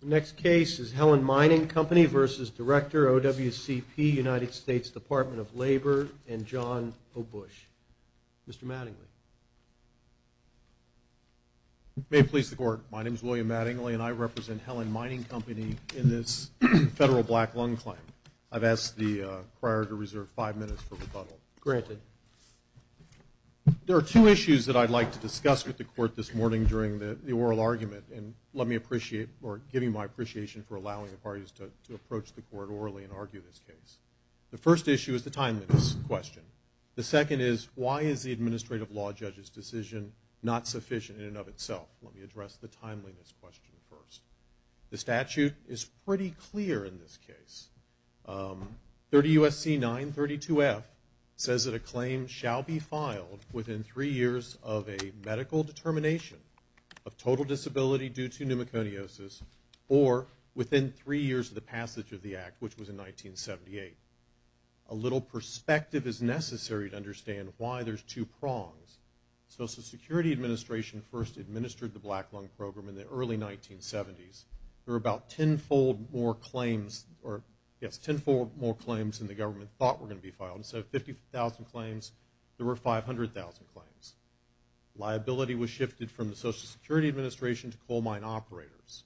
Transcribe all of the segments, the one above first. The next case is Helen Mining Company v. Director, OWCP, United States Department of Labor, and John O. Bush. Mr. Mattingly. May it please the Court, my name is William Mattingly, and I represent Helen Mining Company in this federal black lung claim. I've asked the crier to reserve five minutes for rebuttal. Granted. There are two issues that I'd like to discuss with the Court this morning during the oral argument, and let me appreciate, or give you my appreciation for allowing the parties to approach the Court orally and argue this case. The first issue is the timeliness question. The second is, why is the administrative law judge's decision not sufficient in and of itself? Let me address the timeliness question first. The statute is pretty clear in this case. 30 U.S.C. 932F says that a claim shall be filed within three years of a medical determination of total disability due to pneumoconiosis or within three years of the passage of the Act, which was in 1978. A little perspective is necessary to understand why there's two prongs. The Social Security Administration first administered the black lung program in the early 1970s. There were about tenfold more claims, or, yes, tenfold more claims than the government thought were going to be filed. Instead of 50,000 claims, there were 500,000 claims. Liability was shifted from the Social Security Administration to coal mine operators.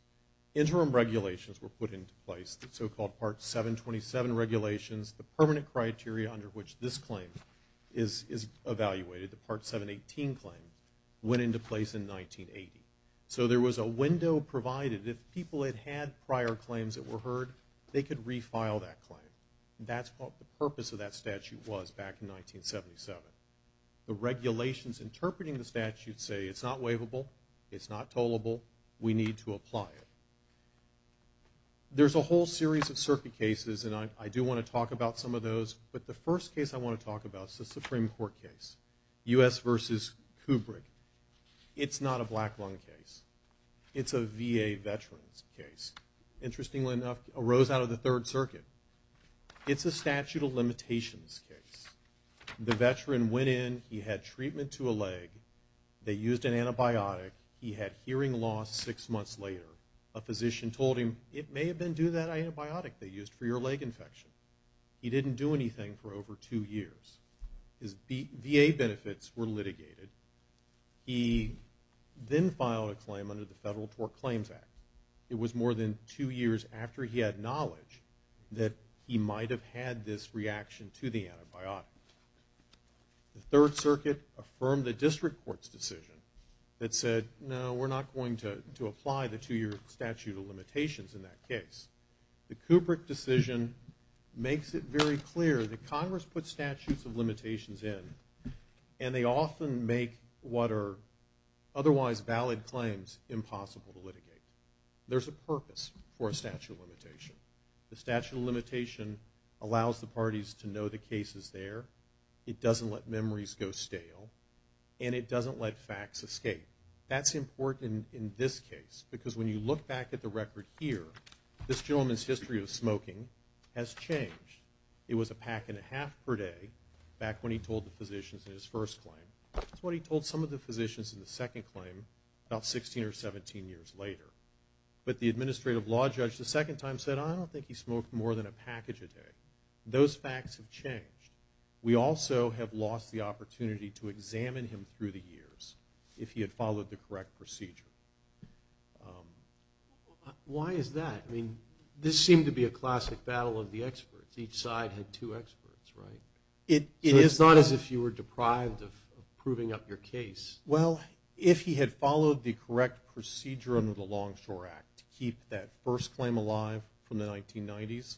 Interim regulations were put into place, the so-called Part 727 regulations. The permanent criteria under which this claim is evaluated, the Part 718 claim, went into place in 1980. So there was a window provided. If people had had prior claims that were heard, they could refile that claim. That's what the purpose of that statute was back in 1977. The regulations interpreting the statute say it's not waivable. It's not tollable. We need to apply it. There's a whole series of circuit cases, and I do want to talk about some of those. But the first case I want to talk about is the Supreme Court case, U.S. v. Kubrick. It's not a black lung case. It's a VA veteran's case. Interestingly enough, it arose out of the Third Circuit. It's a statute of limitations case. The veteran went in. He had treatment to a leg. They used an antibiotic. He had hearing loss six months later. A physician told him, it may have been due to that antibiotic they used for your leg infection. He didn't do anything for over two years. His VA benefits were litigated. He then filed a claim under the Federal Tort Claims Act. It was more than two years after he had knowledge that he might have had this reaction to the antibiotic. The Third Circuit affirmed the district court's decision that said, no, we're not going to apply the two-year statute of limitations in that case. The Kubrick decision makes it very clear that Congress puts statutes of limitations in, and they often make what are otherwise valid claims impossible to litigate. There's a purpose for a statute of limitation. The statute of limitation allows the parties to know the case is there. It doesn't let memories go stale, and it doesn't let facts escape. That's important in this case because when you look back at the record here, this gentleman's history of smoking has changed. It was a pack and a half per day back when he told the physicians in his first claim. That's what he told some of the physicians in the second claim about 16 or 17 years later. But the administrative law judge the second time said, I don't think he smoked more than a package a day. Those facts have changed. We also have lost the opportunity to examine him through the years if he had followed the correct procedure. Why is that? I mean, this seemed to be a classic battle of the experts. Each side had two experts, right? It is not as if you were deprived of proving up your case. Well, if he had followed the correct procedure under the Longshore Act to keep that first claim alive from the 1990s,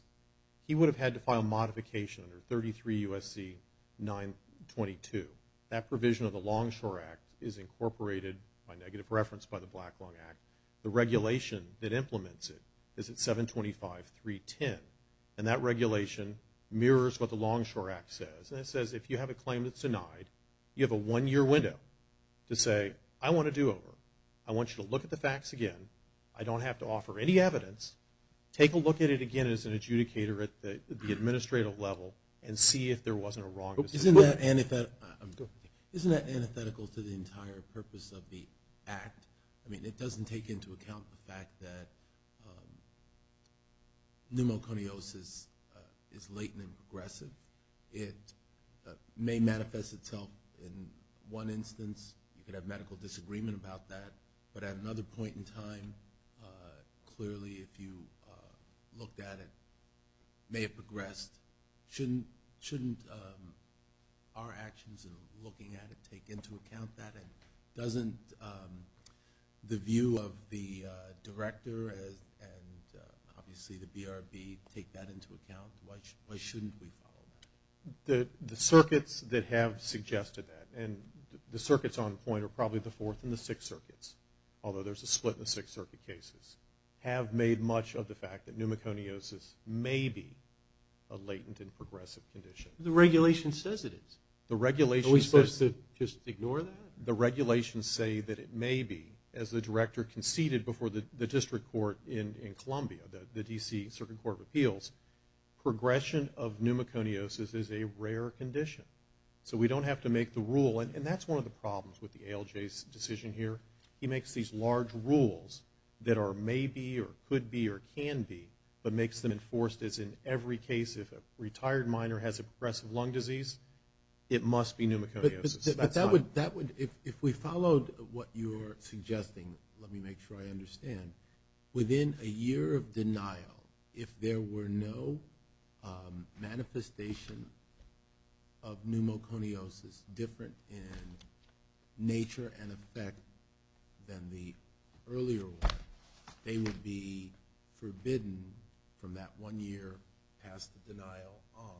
he would have had to file modification under 33 U.S.C. 922. That provision of the Longshore Act is incorporated by negative reference by the Black Long Act. The regulation that implements it is at 725.310. And that regulation mirrors what the Longshore Act says. And it says if you have a claim that's denied, you have a one-year window to say, I want a do-over. I want you to look at the facts again. I don't have to offer any evidence. Take a look at it again as an adjudicator at the administrative level and see if there wasn't a wrong decision. Isn't that antithetical to the entire purpose of the act? I mean, it doesn't take into account the fact that pneumoconiosis is latent and progressive. It may manifest itself in one instance. You could have medical disagreement about that. But at another point in time, clearly if you looked at it, it may have progressed. Shouldn't our actions in looking at it take into account that? And doesn't the view of the director and obviously the BRB take that into account? Why shouldn't we follow that? The circuits that have suggested that, and the circuits on point are probably the Fourth and the Sixth Circuits, although there's a split in the Sixth Circuit cases, have made much of the fact that pneumoconiosis may be a latent and progressive condition. The regulation says it is. Are we supposed to just ignore that? The regulations say that it may be, as the director conceded before the district court in Columbia, the D.C. Circuit Court of Appeals, progression of pneumoconiosis is a rare condition. So we don't have to make the rule. And that's one of the problems with the ALJ's decision here. He makes these large rules that are may be or could be or can be, but makes them enforced as in every case. If a retired minor has a progressive lung disease, it must be pneumoconiosis. But that would, if we followed what you're suggesting, let me make sure I understand, within a year of denial, if there were no manifestation of pneumoconiosis different in nature and effect than the earlier one, they would be forbidden from that one year past the denial on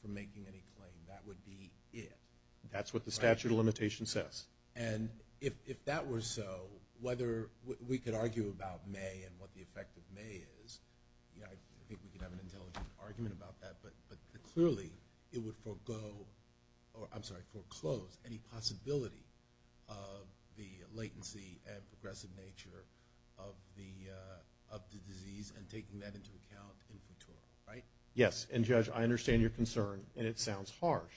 from making any claim. That would be it. That's what the statute of limitations says. And if that were so, whether we could argue about may and what the effect of may is, I think we could have an intelligent argument about that, but clearly it would forego, I'm sorry, foreclose any possibility of the latency and progressive nature of the disease and taking that into account in court, right? Yes, and, Judge, I understand your concern, and it sounds harsh.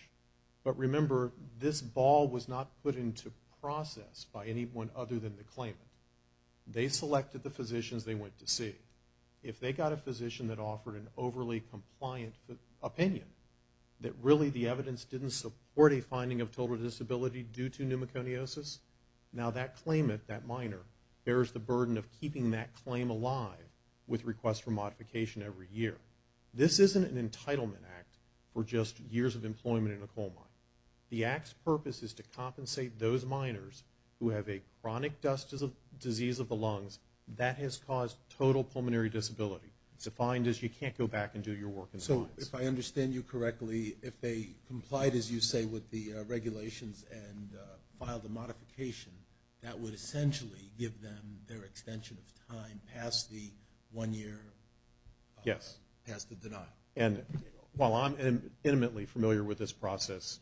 But remember, this ball was not put into process by anyone other than the claimant. They selected the physicians they went to see. If they got a physician that offered an overly compliant opinion, that really the evidence didn't support a finding of total disability due to pneumoconiosis, now that claimant, that minor, bears the burden of keeping that claim alive with requests for modification every year. This isn't an entitlement act for just years of employment in a coal mine. The act's purpose is to compensate those minors who have a chronic disease of the lungs that has caused total pulmonary disability. It's defined as you can't go back and do your work in the mines. So if I understand you correctly, if they complied, as you say, with the regulations and filed a modification, that would essentially give them their extension of time past the one-year? Yes. Past the denial. And while I'm intimately familiar with this process,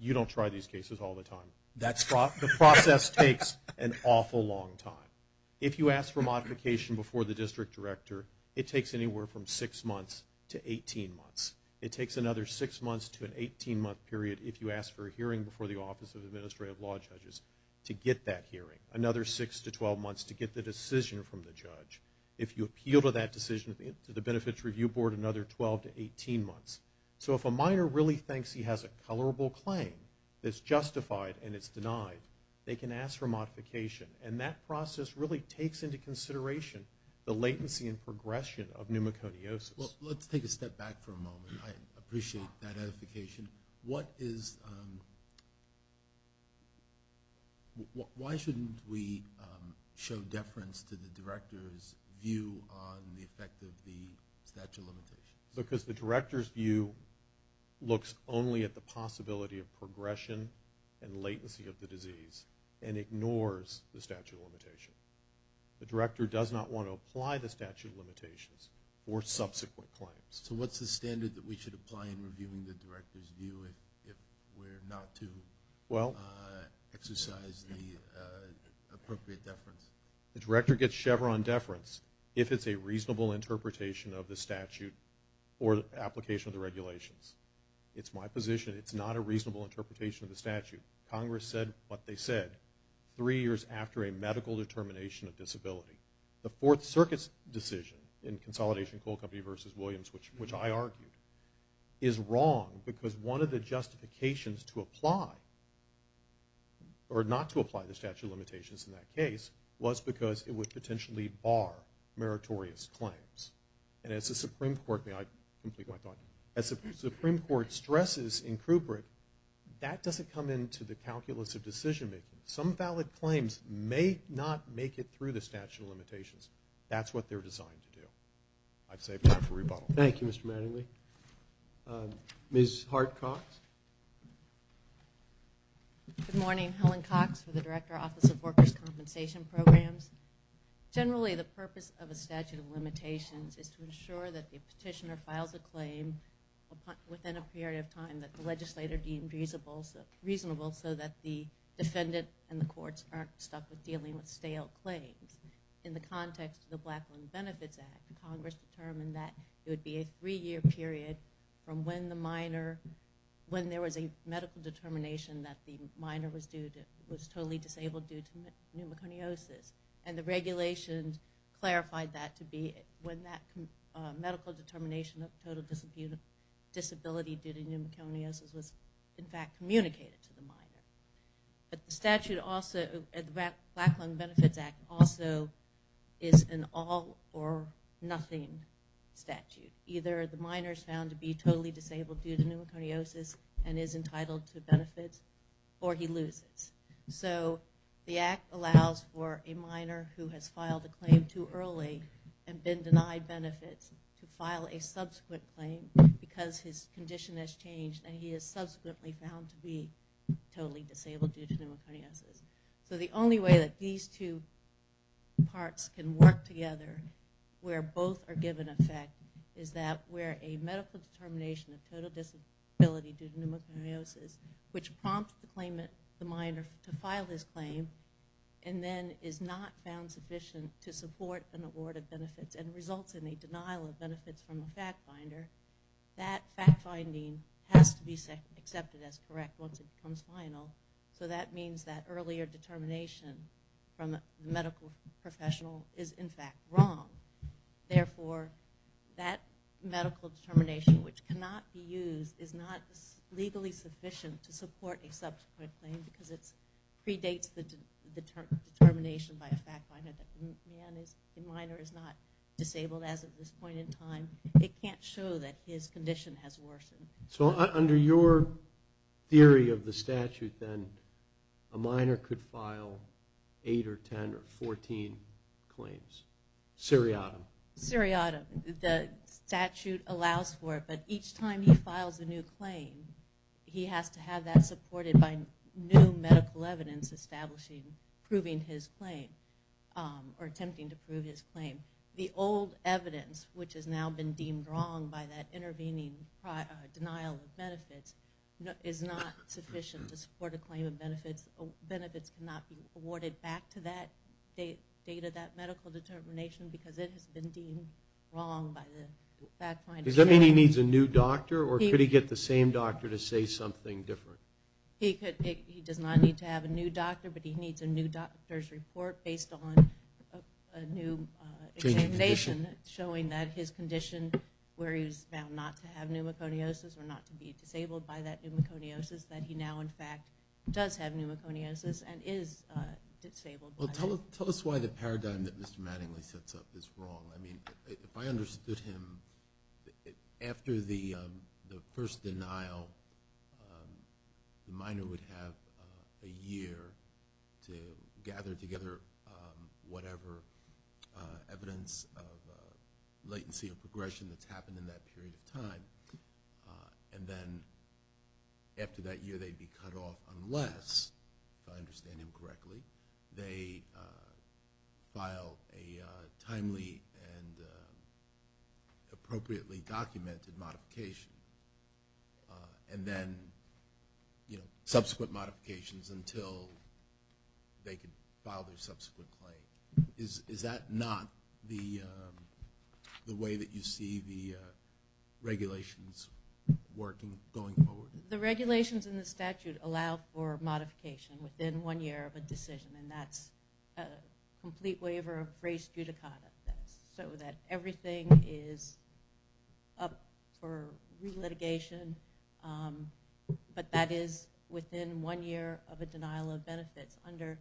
you don't try these cases all the time. The process takes an awful long time. If you ask for modification before the district director, it takes anywhere from 6 months to 18 months. It takes another 6 months to an 18-month period if you ask for a hearing before the Office of Administrative Law Judges to get that hearing, another 6 to 12 months to get the decision from the judge. If you appeal to that decision to the Benefits Review Board, another 12 to 18 months. So if a minor really thinks he has a colorable claim that's justified and it's denied, they can ask for modification. And that process really takes into consideration the latency and progression of pneumoconiosis. Let's take a step back for a moment. I appreciate that edification. Why shouldn't we show deference to the director's view on the effect of the statute of limitations? Because the director's view looks only at the possibility of progression and latency of the disease and ignores the statute of limitations. The director does not want to apply the statute of limitations or subsequent claims. So what's the standard that we should apply in reviewing the director's view if we're not to exercise the appropriate deference? The director gets Chevron deference if it's a reasonable interpretation of the statute or the application of the regulations. It's my position it's not a reasonable interpretation of the statute. Congress said what they said 3 years after a medical determination of disability. The Fourth Circuit's decision in Consolidation Coal Company v. Williams, which I argued, is wrong because one of the justifications to apply or not to apply the statute of limitations in that case was because it would potentially bar meritorious claims. And as the Supreme Court stresses in Crouper, that doesn't come into the calculus of decision-making. Some valid claims may not make it through the statute of limitations. That's what they're designed to do. I'd save time for rebuttal. Thank you, Mr. Mattingly. Ms. Hart-Cox? Good morning. Helen Cox for the Director Office of Workers' Compensation Programs. Generally, the purpose of a statute of limitations is to ensure that the petitioner files a claim within a period of time that the legislator deems reasonable so that the defendant and the courts aren't stuck with dealing with stale claims. In the context of the Black Women's Benefits Act, Congress determined that it would be a 3-year period from when there was a medical determination that the minor was totally disabled due to pneumoconiosis. And the regulations clarified that to be when that medical determination of total disability due to pneumoconiosis was in fact communicated to the minor. But the statute also, the Black Women's Benefits Act, also is an all-or-nothing statute. Either the minor is found to be totally disabled due to pneumoconiosis and is entitled to benefits, or he loses. So the act allows for a minor who has filed a claim too early and been denied benefits to file a subsequent claim because his condition has changed and he is subsequently found to be totally disabled due to pneumoconiosis. So the only way that these two parts can work together where both are given effect is that where a medical determination of total disability due to pneumoconiosis, which prompts the claimant, the minor, to file his claim, and then is not found sufficient to support an award of benefits and results in a denial of benefits from the fact finder, that fact finding has to be accepted as correct once it becomes final. So that means that earlier determination from a medical professional is in fact wrong. Therefore, that medical determination which cannot be used is not legally sufficient to support a subsequent claim because it predates the determination by a fact finder that the minor is not disabled as of this point in time. It can't show that his condition has worsened. So under your theory of the statute, then, a minor could file 8 or 10 or 14 claims. Seriatim. Seriatim. The statute allows for it, but each time he files a new claim, he has to have that supported by new medical evidence establishing proving his claim or attempting to prove his claim. The old evidence, which has now been deemed wrong by that intervening denial of benefits, is not sufficient to support a claim of benefits. Benefits cannot be awarded back to that date of that medical determination because it has been deemed wrong by the fact finder. Does that mean he needs a new doctor, or could he get the same doctor to say something different? He does not need to have a new doctor, but he needs a new doctor's report based on a new examination showing that his condition, where he was found not to have pneumoconiosis or not to be disabled by that pneumoconiosis, that he now, in fact, does have pneumoconiosis and is disabled by it. Tell us why the paradigm that Mr. Mattingly sets up is wrong. I mean, if I understood him, after the first denial, the minor would have a year to gather together whatever evidence of latency or progression that's happened in that period of time, and then after that year they'd be cut off unless, if I understand him correctly, they file a timely and appropriately documented modification and then subsequent modifications until they can file their subsequent claim. Is that not the way that you see the regulations working going forward? The regulations in the statute allow for modification within one year of a decision, and that's a complete waiver of res judicata, so that everything is up for relitigation, but that is within one year of a denial of benefits. Under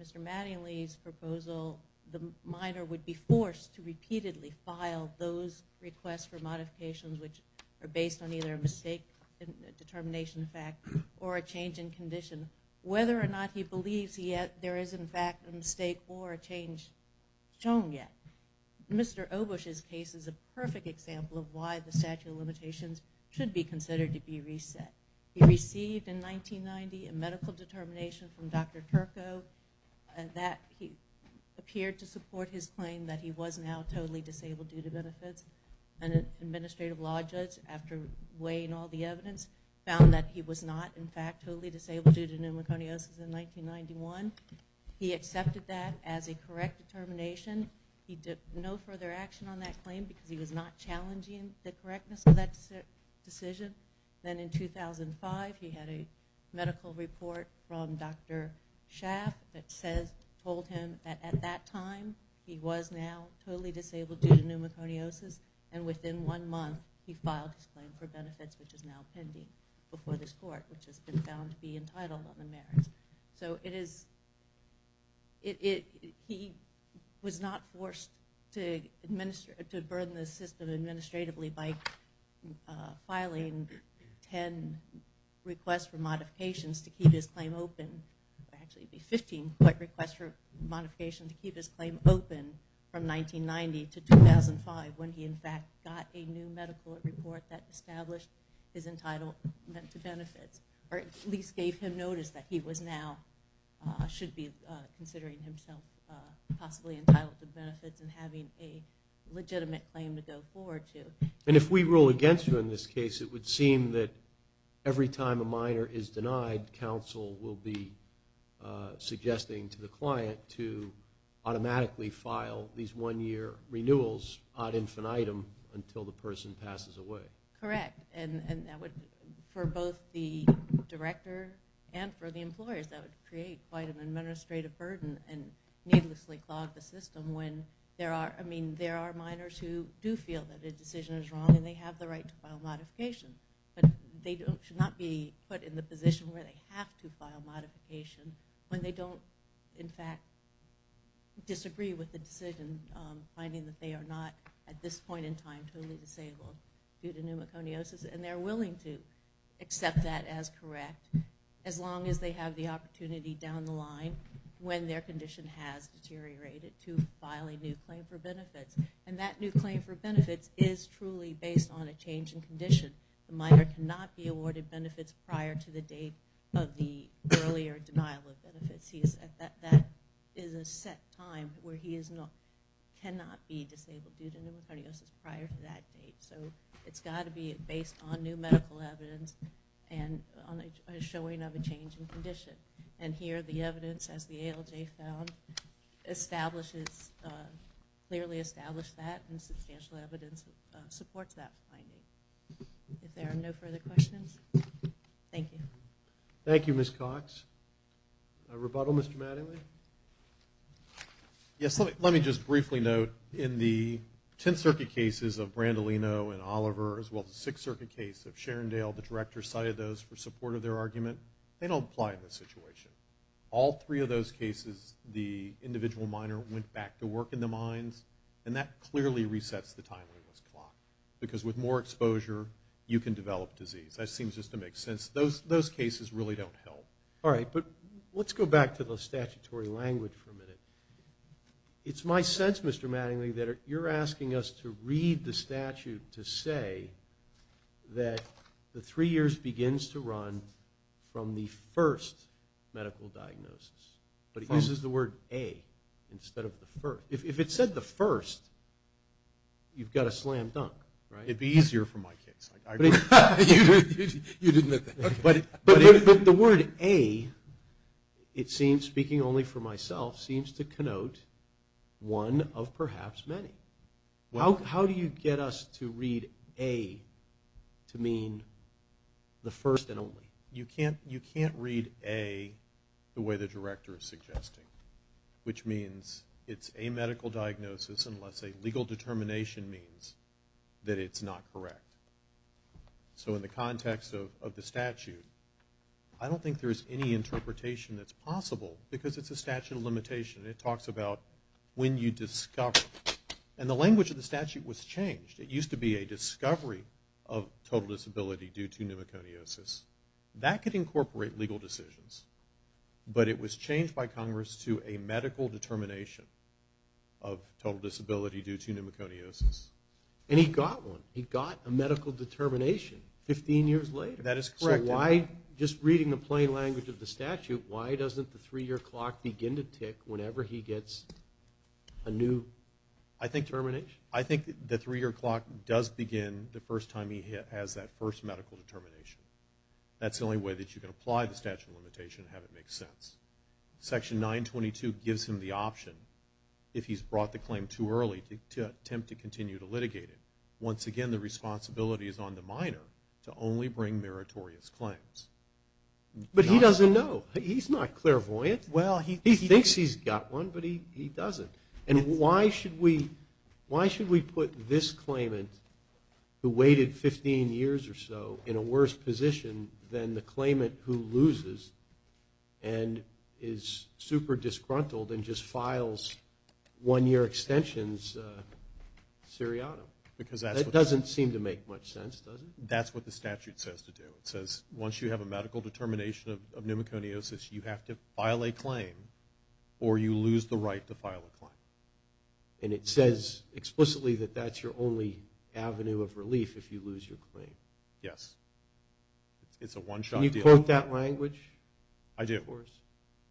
Mr. Mattingly's proposal, the minor would be forced to repeatedly file those requests for modifications which are based on either a mistake determination fact or a change in condition, whether or not he believes there is, in fact, a mistake or a change shown yet. Mr. Obush's case is a perfect example of why the statute of limitations should be considered to be reset. He received, in 1990, a medical determination from Dr. Turco that appeared to support his claim that he was now totally disabled due to benefits and an administrative law judge, after weighing all the evidence, found that he was not, in fact, totally disabled due to pneumoconiosis in 1991. He accepted that as a correct determination. He took no further action on that claim because he was not challenging the correctness of that decision. Then in 2005, he had a medical report from Dr. Schaff that told him that at that time, he was now totally disabled due to pneumoconiosis, and within one month he filed his claim for benefits, which is now pending before this court, which has been found to be entitled on the merits. So he was not forced to burden the system administratively by filing 10 requests for modifications to keep his claim open. Actually, it would be 15 requests for modification to keep his claim open from 1990 to 2005 when he, in fact, got a new medical report that established his entitlement to benefits, or at least gave him notice that he was now, should be considering himself, possibly entitled to benefits and having a legitimate claim to go forward to. And if we rule against you in this case, it would seem that every time a minor is denied, counsel will be suggesting to the client to automatically file these one-year renewals ad infinitum until the person passes away. Correct. And that would, for both the director and for the employers, that would create quite an administrative burden and needlessly clog the system when there are, there are minors who do feel that a decision is wrong and they have the right to file modification, but they should not be put in the position where they have to file modification when they don't, in fact, disagree with the decision, finding that they are not at this point in time totally disabled due to pneumoconiosis, and they're willing to accept that as correct as long as they have the opportunity down the line when their condition has deteriorated to filing new claim for benefits. And that new claim for benefits is truly based on a change in condition. A minor cannot be awarded benefits prior to the date of the earlier denial of benefits. That is a set time where he cannot be disabled due to pneumoconiosis prior to that date. So it's got to be based on new medical evidence and a showing of a change in condition. And here the evidence, as the ALJ found, establishes, clearly established that, and substantial evidence supports that finding. If there are no further questions, thank you. Thank you, Ms. Cox. A rebuttal, Mr. Mattingly? Yes, let me just briefly note, in the Tenth Circuit cases of Brandolino and Oliver, as well as the Sixth Circuit case of Sharondale, the director cited those for support of their argument. They don't apply in this situation. All three of those cases, the individual minor went back to work in the mines, and that clearly resets the timeline of this clock because with more exposure you can develop disease. That seems just to make sense. Those cases really don't help. All right, but let's go back to the statutory language for a minute. It's my sense, Mr. Mattingly, that you're asking us to read the statute to say that the three years begins to run from the first medical diagnosis. But it uses the word a instead of the first. If it said the first, you've got a slam dunk, right? It would be easier for my kids. You didn't admit that. But the word a, it seems, speaking only for myself, seems to connote one of perhaps many. How do you get us to read a to mean the first and only? You can't read a the way the director is suggesting, which means it's a medical diagnosis unless a legal determination means that it's not correct. So in the context of the statute, I don't think there's any interpretation that's possible because it's a statute of limitation. It talks about when you discover. And the language of the statute was changed. It used to be a discovery of total disability due to pneumoconiosis. That could incorporate legal decisions, but it was changed by Congress to a medical determination of total disability due to pneumoconiosis. And he got one. He got a medical determination 15 years later. That is correct. So why, just reading the plain language of the statute, why doesn't the three-year clock begin to tick whenever he gets a new determination? I think the three-year clock does begin the first time he has that first medical determination. That's the only way that you can apply the statute of limitation and have it make sense. Section 922 gives him the option, if he's brought the claim too early, to attempt to continue to litigate it. Once again, the responsibility is on the minor to only bring meritorious claims. But he doesn't know. He's not clairvoyant. He thinks he's got one, but he doesn't. And why should we put this claimant, who waited 15 years or so, in a worse position than the claimant who loses and is super disgruntled and just files one-year extensions seriatim? That doesn't seem to make much sense, does it? That's what the statute says to do. It says once you have a medical determination of pneumoconiosis, you have to file a claim or you lose the right to file a claim. And it says explicitly that that's your only avenue of relief if you lose your claim. Yes. It's a one-shot deal. Can you quote that language? I do. Of course.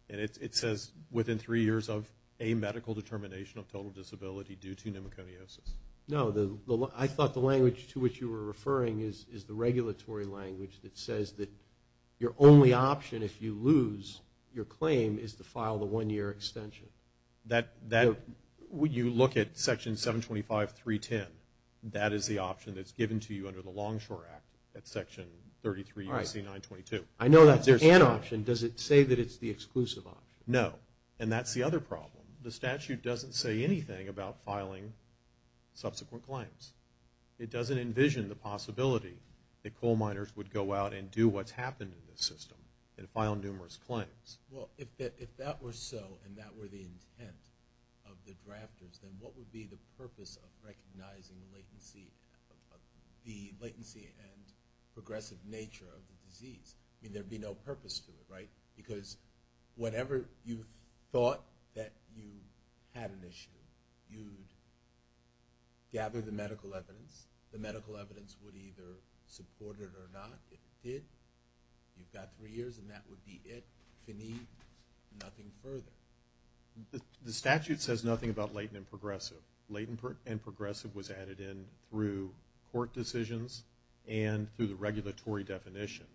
And it says within three years of a medical determination of total disability due to pneumoconiosis. No. I thought the language to which you were referring is the regulatory language that says that your only option if you lose your claim is to file the one-year extension. When you look at Section 725.310, that is the option that's given to you under the Longshore Act at Section 33 U.C. 922. All right. I know that's an option. Does it say that it's the exclusive option? No. And that's the other problem. The statute doesn't say anything about filing subsequent claims. It doesn't envision the possibility that coal miners would go out and do what's happened in the system and file numerous claims. Well, if that were so and that were the intent of the drafters, then what would be the purpose of recognizing the latency and progressive nature of the disease? I mean, there would be no purpose to it, right? Because whatever you thought that you had initially, you gathered the medical evidence. The medical evidence would either support it or not. If it did, you've got three years and that would be it. If you need, nothing further. The statute says nothing about latent and progressive. Latent and progressive was added in through court decisions and through the regulatory definition,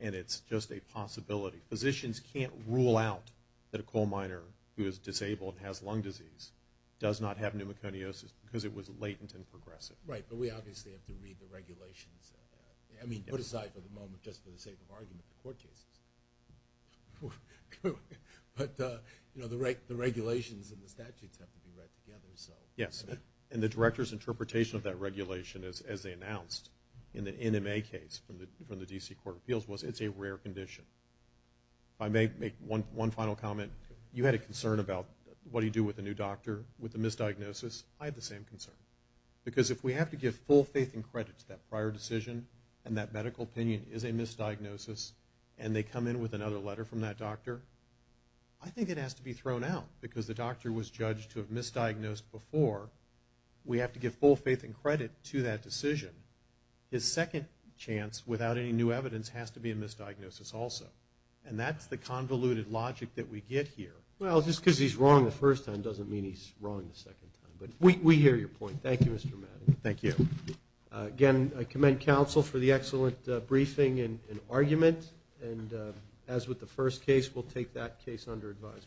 and it's just a possibility. Physicians can't rule out that a coal miner who is disabled and has lung disease does not have pneumoconiosis because it was latent and progressive. Right, but we obviously have to read the regulations. I mean, put aside for the moment, just for the sake of argument, the court cases. But the regulations and the statutes have to be read together. Yes, and the director's interpretation of that regulation, as they announced in the NMA case from the D.C. Court of Appeals, was it's a rare condition. If I may make one final comment, you had a concern about what do you do with a new doctor with a misdiagnosis. I had the same concern because if we have to give full faith and credit to that prior decision and that medical opinion is a misdiagnosis and they come in with another letter from that doctor, I think it has to be thrown out because the doctor was judged to have misdiagnosed before. We have to give full faith and credit to that decision. His second chance, without any new evidence, has to be a misdiagnosis also. And that's the convoluted logic that we get here. Well, just because he's wrong the first time doesn't mean he's wrong the second time. But we hear your point. Thank you, Mr. Madden. Thank you. Again, I commend counsel for the excellent briefing and argument. And as with the first case, we'll take that case under advisement.